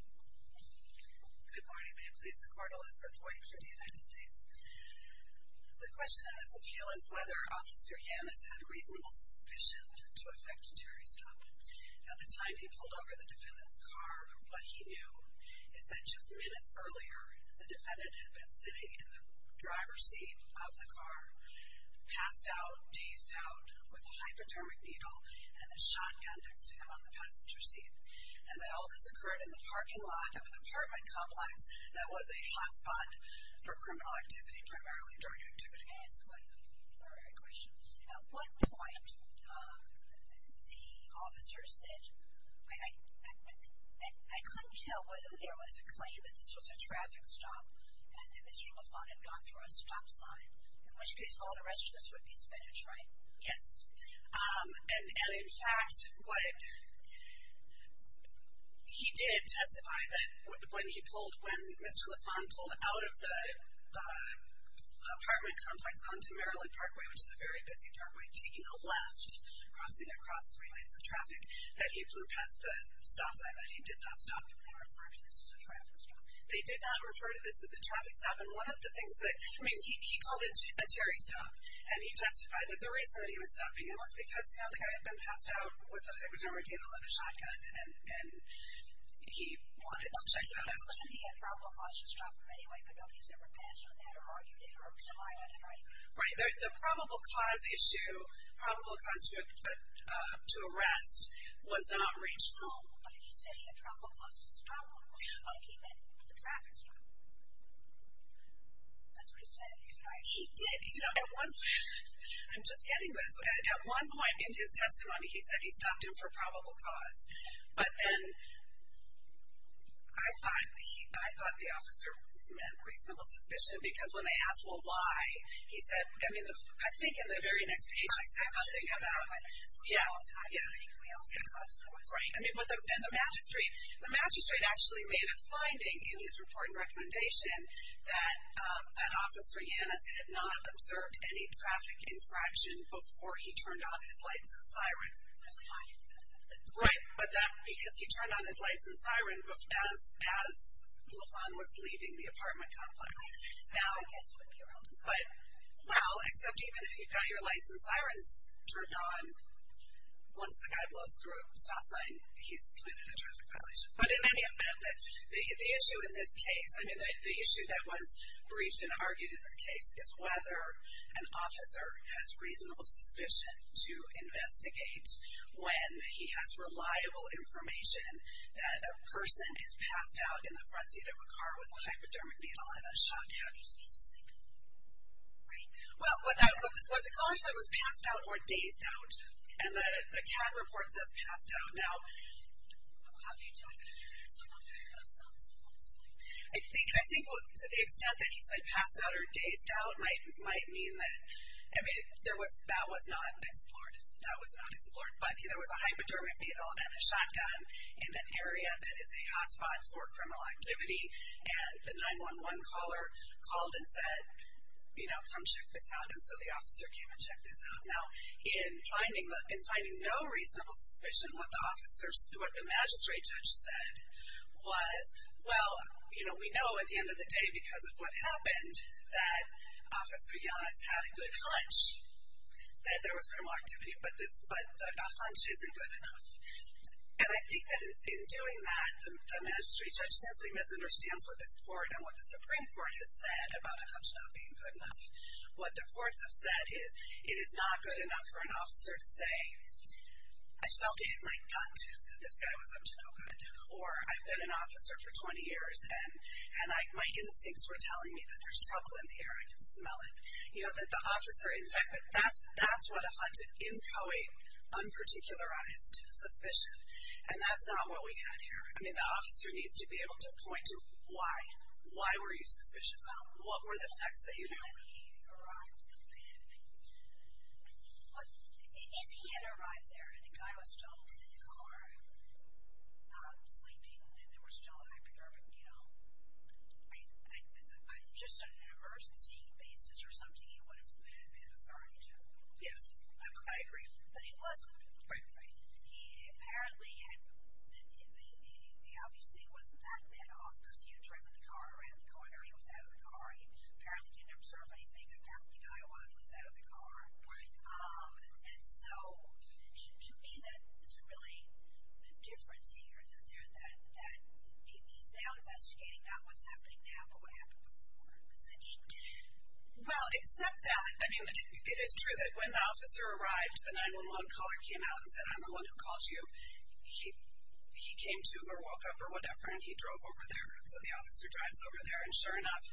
Good morning. May it please the Court Elizabeth White for the United States. The question that has appealed is whether Officer Yannis had a reasonable suspicion to affect Terry's stop. At the time he pulled over the defendant's car, what he knew is that just minutes earlier, the defendant had been sitting in the driver's seat of the car, passed out, dazed out, with a hypodermic needle and a shotgun next to him on the passenger seat. And that all this occurred in the parking lot of an apartment complex that was a hotspot for criminal activity, primarily drug activity. May I ask a primary question? At what point the officer said, I couldn't tell whether there was a claim that this was a traffic stop and that Mr. Lafon had gone for a stop sign, in which case all the rest of this would be spinach, right? Yes. And in fact, he did testify that when Mr. Lafon pulled out of the apartment complex onto Maryland Parkway, which is a very busy parkway, taking a left, crossing across three lanes of traffic, that he blew past the stop sign, that he did not stop. They did not refer to this as a traffic stop. They did not refer to this as a traffic stop. I mean, he called it a Terry stop. And he testified that the reason that he was stopping him was because, you know, the guy had been passed out with a hypodermic needle and a shotgun. And he wanted to check that out. Well, he said he had probable cause to stop him anyway, but nobody has ever passed on that or argued it or relied on it, right? Right. The probable cause issue, probable cause to arrest, was not reached. No, but he said he had probable cause to stop him. Oh, he meant the traffic stop. That's what he said. He's right. He did. You know, at one point, I'm just getting this, at one point in his testimony he said he stopped him for probable cause. But then I thought the officer meant reasonable suspicion because when they asked, well, why, he said, I mean, I think in the very next page he said something about, yeah, yeah. Right. And the magistrate, the magistrate actually made a finding in his report and recommendation that an officer, Yanis, had not observed any traffic infraction before he turned on his lights and siren. Right. But that because he turned on his lights and siren as Lufan was leaving the apartment complex. But, well, except even if you've got your lights and sirens turned on, once the guy blows through a stop sign, he's committed a traffic violation. But in any event, the issue in this case, I mean, the issue that was briefed and argued in this case is whether an officer has reasonable suspicion to investigate when he has reliable information that a person is passed out in the front seat of a car with a hypodermic needle and a shotgun. Right. Well, what the college said was passed out or dazed out. And the CAD report says passed out. Now, I think to the extent that he said passed out or dazed out might mean that, I mean, that was not explored. But there was a hypodermic needle and a shotgun in an area that is a hotspot for criminal activity. And the 911 caller called and said, you know, come check this out. And so the officer came and checked this out. Now, in finding no reasonable suspicion, what the magistrate judge said was, well, you know, we know at the end of the day because of what happened, that Officer Giannis had a good hunch that there was criminal activity, but a hunch isn't good enough. And I think that in doing that, the magistrate judge simply misunderstands what this court and what the Supreme Court has said about a hunch not being good enough. What the courts have said is it is not good enough for an officer to say, I felt it in my gut that this guy was up to no good, or I've been an officer for 20 years and my instincts were telling me that there's trouble in the air, I can smell it. You know, that the officer, in fact, that's what a hunch is, inchoate, unparticularized suspicion. And that's not what we had here. I mean, the officer needs to be able to point to why. Why were you suspicious? What were the facts that you knew? Well, he had arrived there, and the guy was still in the car, sleeping, and they were still in a hypercar, but, you know, just on an emergency basis or something, he would have been an authority to him. Yes, I agree. But he wasn't. Right. He apparently had, the obvious thing wasn't that bad off, because he had driven the car around the corner, he was out of the car, he apparently didn't observe anything, apparently the guy was, he was out of the car. Right. And so, to me, that's really the difference here, that he's now investigating, not what's happening now, but what happened before, essentially. Well, except that, I mean, it is true that when the officer arrived, the 911 caller came out and said, I'm the one who called you. He came to, or woke up, or whatever, and he drove over there. So the officer drives over there, and sure enough,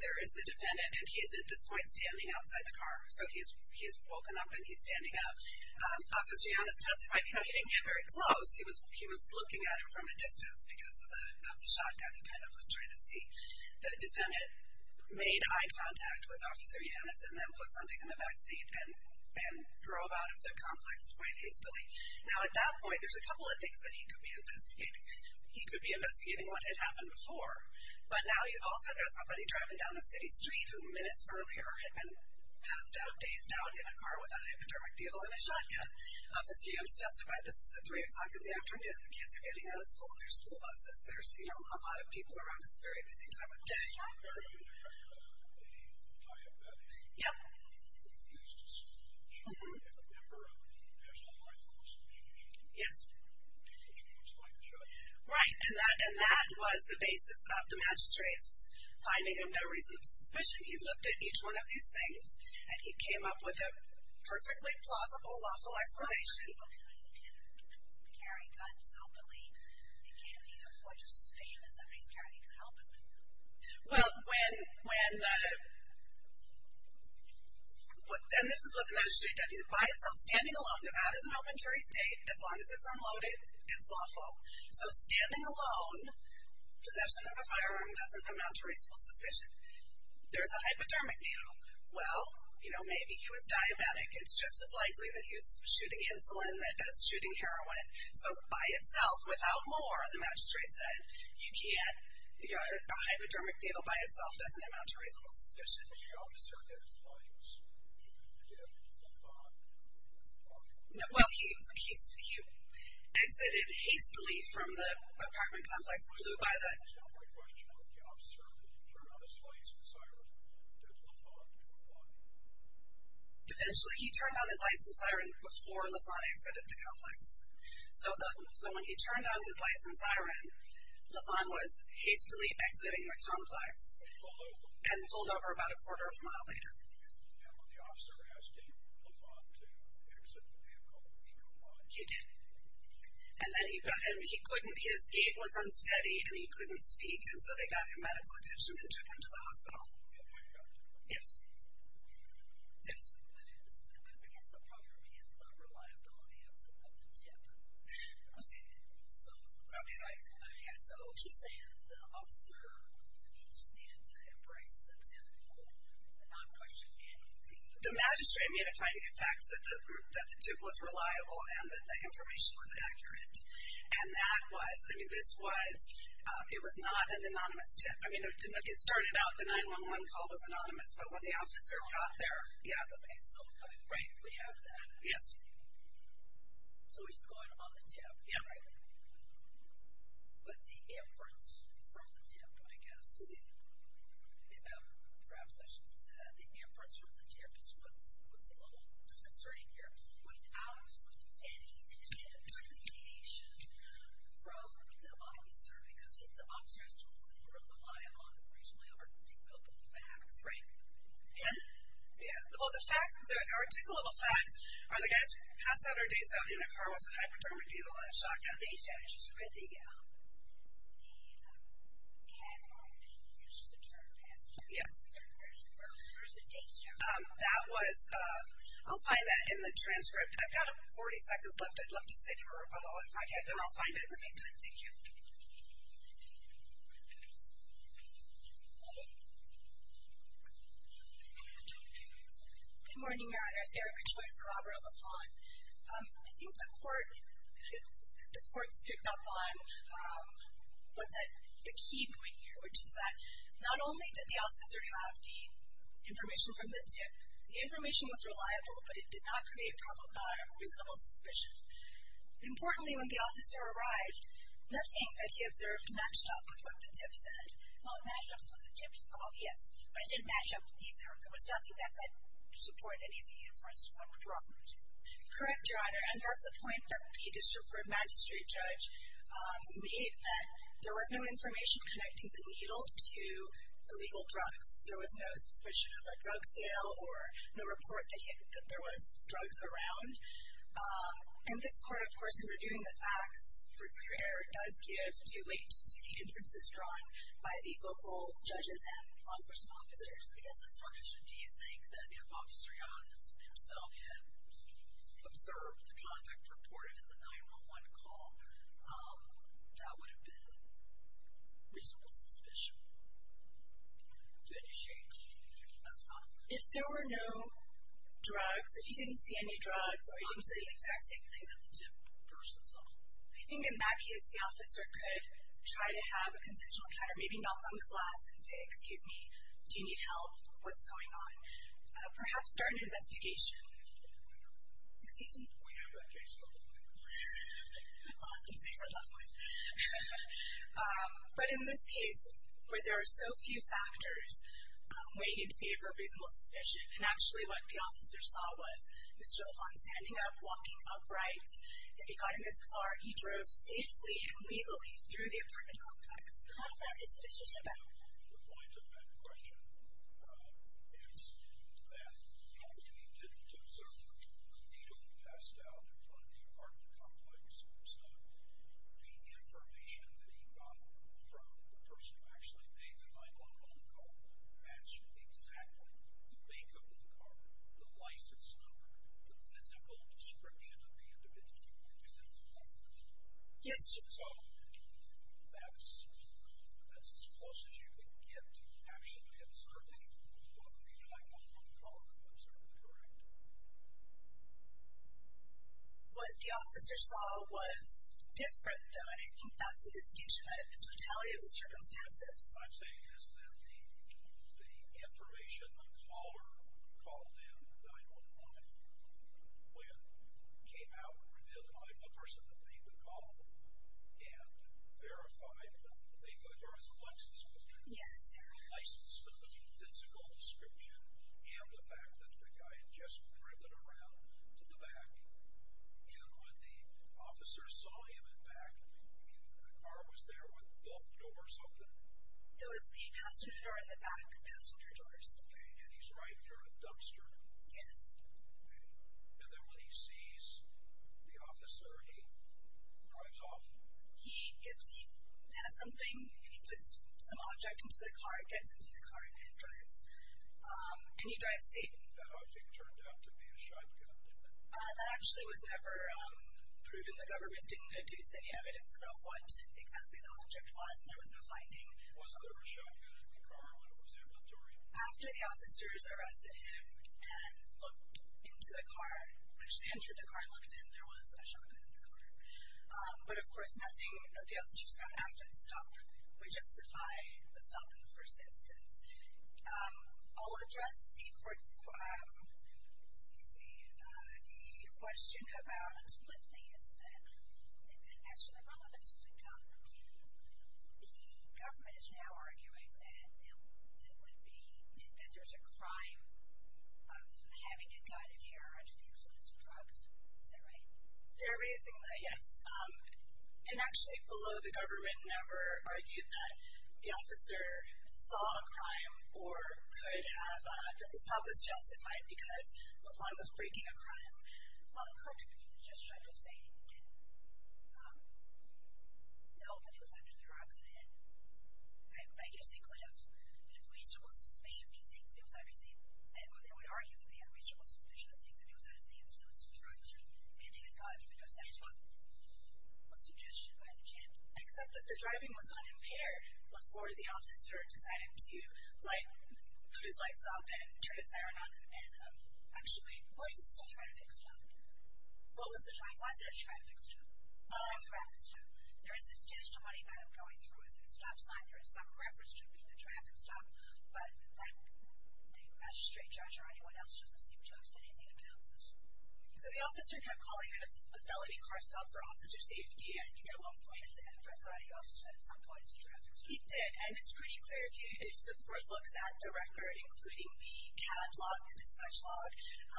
there is the defendant, and he is at this point standing outside the car. So he's woken up and he's standing up. Officer Yannis testified that he didn't get very close. He was looking at him from a distance because of the shotgun, and kind of was trying to see. The defendant made eye contact with Officer Yannis and then put something in the back seat and drove out of the complex quite hastily. Now, at that point, there's a couple of things that he could be investigating. He could be investigating what had happened before, but now you've also got somebody driving down the city street who minutes earlier had been passed out, dazed out, in a car with a hypodermic beetle and a shotgun. Officer Yannis testified this is at 3 o'clock in the afternoon. The kids are getting out of school. There's school buses. There's, you know, a lot of people around. It's a very busy time of day. Yes, sir. Yep. Yes. Right, and that was the basis of the magistrates finding him no reason for suspicion. He looked at each one of these things, and he came up with a perfectly plausible, lawful explanation. Well, when the—and this is what the magistrate said. By itself, standing alone, Nevada is an open carry state. As long as it's unloaded, it's lawful. So standing alone, possession of a firearm doesn't amount to reasonable suspicion. There's a hypodermic beetle. Well, you know, maybe he was diabetic. It's just as likely that he was shooting insulin as shooting heroin. So by itself, without more, the magistrate said, you can't—a hypodermic beetle by itself doesn't amount to reasonable suspicion. Well, he exited hastily from the apartment complex. Eventually, he turned on his lights and siren before LaFont exited the complex. So when he turned on his lights and siren, LaFont was hastily exiting the complex and pulled over about a quarter of a mile later. He did. And then he couldn't—his gait was unsteady, and he couldn't speak, and so they got him medical attention and took him to the hospital. Yes. Yes. Okay. So, I mean, I—so, she's saying the officer, he just needed to embrace the tip and not question anything. The magistrate made a fine—the fact that the tip was reliable and that the information was accurate. And that was—I mean, this was—it was not an anonymous tip. I mean, it started out—the 911 call was anonymous, but when the officer got there— Yeah. Right. We have that. Yes. So he's going on the tip. Yeah. Right. But the inference from the tip, I guess— Yeah. Perhaps I should say that the inference from the tip is what's a little disconcerting here. Without any discretion from the officer, because the officer has to rely on reasonably articulable facts. Right. And— Yeah. Well, the fact—the articulable facts are the guys passed out their dates on the unit car with the hyperdermid people and a shotgun. These guys just read the— Yeah. They had—they used the term— Yes. Where's the dates? That was—I'll find that in the transcript. I've got 40 seconds left. I'd love to save it for when I get done. I'll find it in the meantime. Thank you. Good morning, Your Honors. Erica Choi for Robert LaFont. I think the court—the court's picked up on the key point here, which is that not only did the officer have the information from the tip, the information was reliable, but it did not create reasonable suspicion. Importantly, when the officer arrived, nothing that he observed matched up with what the tip said. Well, it matched up with what the tip said. Well, yes, but it didn't match up either. There was nothing that could support any of the inferences drawn from the tip. Correct, Your Honor, and that's a point that the district court magistrate judge made, that there was no information connecting the needle to illegal drugs. There was no suspicion of a drug sale or no report that there was drugs around. And this court, of course, in reviewing the facts, does give due weight to the inferences drawn by the local judges and law enforcement officers. Yes, I'm sorry. Do you think that if Officer Young himself had observed the contact reported in the 911 call, that would have been reasonable suspicion to initiate a stop? If there were no drugs, if he didn't see any drugs, or he didn't see the exact same thing that the tip person saw. I think in that case, the officer could try to have a consensual encounter, or maybe knock on the glass and say, excuse me, do you need help? What's going on? Perhaps start an investigation. Excuse me? We have a question. I'll have to save our loved one. But in this case, where there are so few factors weighing in favor of reasonable suspicion, and actually what the officer saw was Mr. LaFont standing up, walking upright. He got in his car. He drove safely and legally through the apartment complex. How is that suspicious about him? The point of that question is that if he didn't observe, he would have passed out in front of the apartment complex. So the information that he got from the person who actually made the 911 call, that's exactly the makeup of the car, the license number, the physical description of the individual who made the 911 call. Yes. So that's as close as you can get to actually observing what the 911 caller observed, correct? What the officer saw was different, though, and I think that's the distinction out of the totality of the circumstances. What I'm saying is that the information the caller called in on the 911, when it came out and revealed that I'm the person that made the call and verified that the car was a Lexus, was it? Yes, sir. The license number, the physical description, and the fact that the guy had just driven around to the back. And when the officer saw him in the back, the car was there with both doors open? It was the passenger door and the back passenger doors. Okay, and he's driving through a dumpster? Yes. Okay. And then when he sees the officer, he drives off? He has something, and he puts some object into the car, it gets into the car, and it drives. That object turned out to be a shotgun, didn't it? That actually was never proven. The government didn't deduce any evidence about what exactly the object was, and there was no finding. Was there a shotgun in the car when it was inventory? After the officers arrested him and looked into the car, actually entered the car and looked in, there was a shotgun in the car. But, of course, nothing that the officers found after the stop would justify the stop in the first instance. I'll address the question about, one thing is that as to the relevance of the gun, the government is now arguing that there's a crime of having a gun if you're under the influence of drugs. Is that right? They're raising that, yes. Actually, below, the government never argued that the officer saw a crime or could have, that the stop was justified because the crime was breaking a crime. Well, it could, because you just tried to say that, oh, but it was under their accident. I guess they could have had reasonable suspicion to think that it was under the, or they would argue that they had reasonable suspicion to think that it was under the influence of drugs. So, handing a gun, because that's what was suggested by the general. Except that the driving was unimpaired before the officer decided to put his lights up and turn his siren on. Actually, was it a traffic stop? What was the time? Was it a traffic stop? It was a traffic stop. There is this testimony that I'm going through as a stop sign. There is some reference to it being a traffic stop, but the magistrate judge or anyone else doesn't seem to have said anything about this. So, the officer kept calling it a felony car stop for officer safety, and you get one point at the end. But I thought he also said at some point it was a traffic stop. He did, and it's pretty clear. If the court looks at the record, including the catalog, the dispatch log,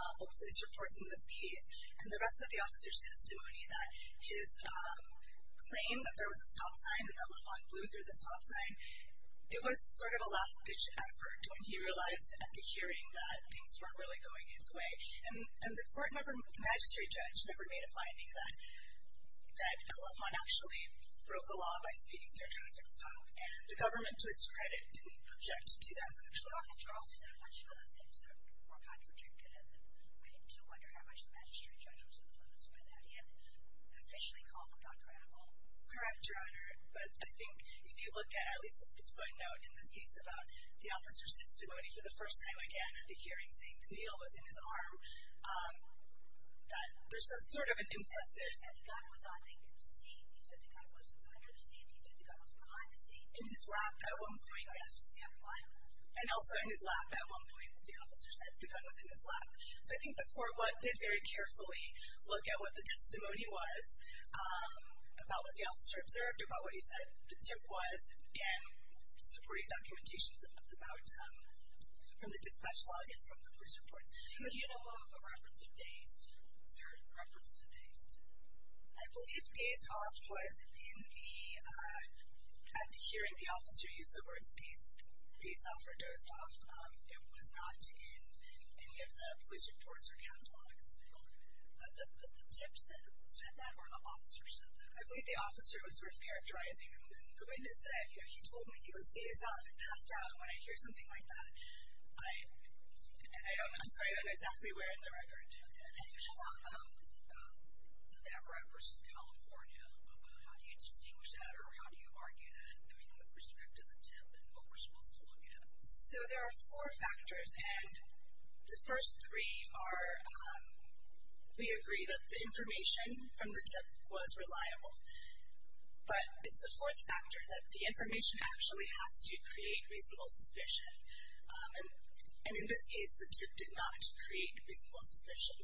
all police reports in this case, and the rest of the officer's testimony that his claim that there was a stop sign and that LaFont blew through the stop sign, it was sort of a last-ditch effort when he realized at the hearing that things weren't really going his way. And the court never moved, the magistrate judge never made a finding that LaFont actually broke the law by speeding through a traffic stop, and the government, to its credit, didn't object to that actually. The officer also said a bunch of other things that were contradictive, and we do wonder how much the magistrate judge was influenced by that. He had officially called them not credible. Correct, Your Honor, but I think if you look at at least his footnote in this case about the officer's testimony for the first time again at the hearing and saying the needle was in his arm, that there's sort of an impetus. He said the gun was on the seat. He said the gun was under the seat. He said the gun was behind the seat. In his lap at one point, yes. And also in his lap at one point. The officer said the gun was in his lap. So I think the court did very carefully look at what the testimony was about what the officer observed or about what he said the tip was, and supporting documentations from the dispatch log and from the police reports. Do you know of a reference of dazed? Is there a reference to dazed? I believe dazed off was in the hearing. The officer used the word dazed off or dozed off. It was not in any of the police reports or catalogs. Was the tip said that or the officer said that? I believe the officer was sort of characterizing him. The way he said, you know, he told me he was dazed off and passed out when I hear something like that. I don't know. I'm sorry, I don't know exactly where in the record. You just talked about Navarrete versus California. How do you distinguish that or how do you argue that, I mean, with respect to the tip and what we're supposed to look at? So there are four factors, and the first three are we agree that the information from the tip was reliable. But it's the fourth factor that the information actually has to create reasonable suspicion. And in this case, the tip did not create reasonable suspicion.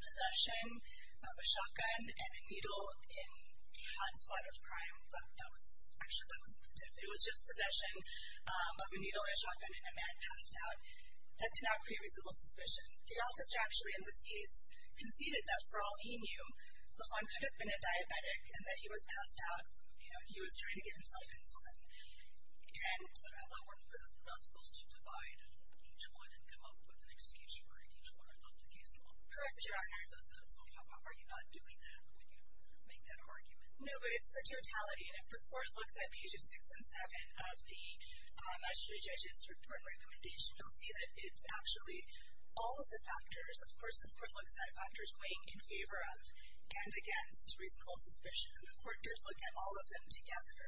Possession of a shotgun and a needle in a hot spot of crime, but actually that wasn't the tip. It was just possession of a needle, a shotgun, and a man passed out. That did not create reasonable suspicion. The officer actually, in this case, conceded that for all he knew, the son could have been a diabetic and that he was passed out. You know, he was trying to get himself insulin. And that we're not supposed to divide each one and come up with an excuse for each one of the cases. Correct. So how are you not doing that when you make that argument? No, but it's the totality. And if the court looks at pages six and seven of the jury judge's report recommendation, you'll see that it's actually all of the factors. Of course, this court looks at factors weighing in favor of and against reasonable suspicion. And the court does look at all of them together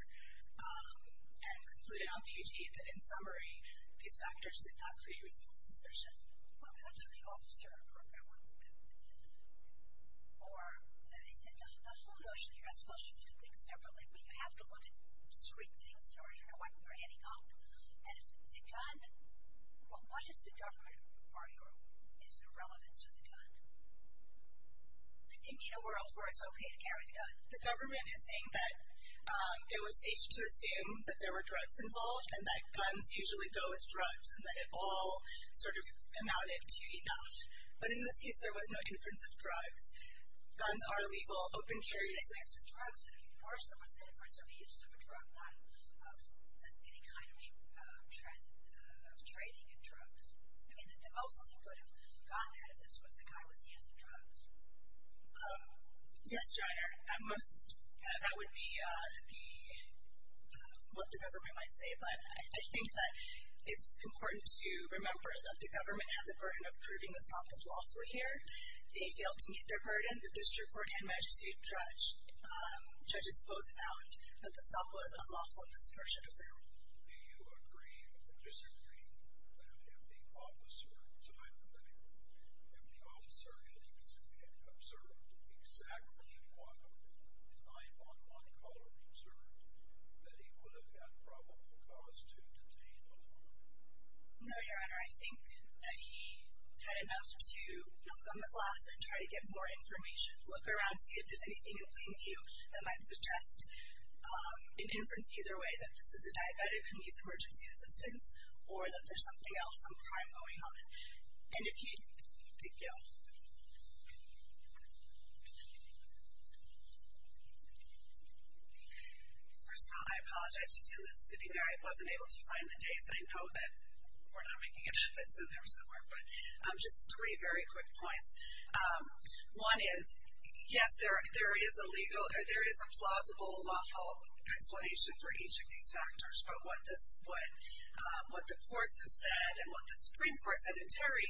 and concluded on page eight that, in summary, these factors did not create reasonable suspicion. Well, but that's what the officer approved that one. Or the whole motion, the arrest motion, you can think separately, but you have to look at three things in order to know what you're adding up. And it's the gun. What does the government argue is the relevance of the gun? They need a world where it's okay to carry the gun. The government is saying that it was safe to assume that there were drugs involved and that guns usually go with drugs and that it all sort of amounted to enough. But in this case, there was no inference of drugs. Guns are legal, open carry is legal. Of course, there was an inference of the use of a drug, not of any kind of trading in drugs. I mean, the most he could have gotten out of this was the guy was using drugs. Yes, Joiner, that would be what the government might say. But I think that it's important to remember that the government had the burden of proving the SOC was lawful here. They failed to meet their burden. And the district court and magistrate judge, judges both found that the SOC was unlawful in this version of the rule. Do you agree or disagree that if the officer, so hypothetically, if the officer had observed exactly what the 9-1-1 caller observed, that he would have had probable cause to detain a woman? No, Your Honor. Your Honor, I think that he had enough to look on the glass and try to get more information, look around, see if there's anything in plain view. And I suggest an inference either way that this is a diabetic who needs emergency assistance or that there's something else, some crime going on. And if he did, thank you. First of all, I apologize. I wasn't able to find the dates. I know that we're not making it up. It's in there somewhere. But just three very quick points. One is, yes, there is a legal or there is a plausible lawful explanation for each of these factors, but what the courts have said and what the Supreme Court said in Terry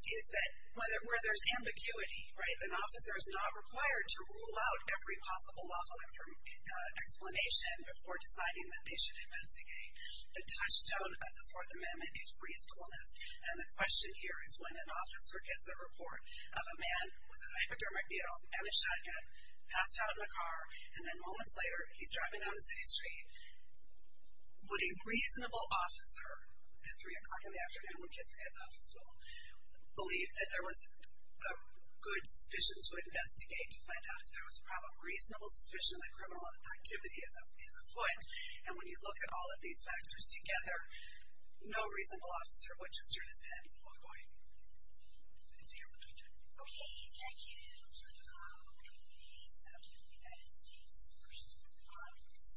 is that where there's ambiguity, right, an officer is not required to rule out every possible lawful explanation before deciding that they should investigate. The touchstone of the Fourth Amendment is reasonableness. And the question here is when an officer gets a report of a man with a hypodermic needle and a shotgun passed out in a car, and then moments later he's driving down a city street, would a reasonable officer at 3 o'clock in the afternoon when kids are getting out of school believe that there was a good suspicion to investigate to find out if there was a probable reasonable suspicion that criminal activity is afloat? And when you look at all of these factors together, no reasonable officer would just turn his head and walk away. Is there a point? Okay. Thank you. We're going to move on to the United States versus the Congress.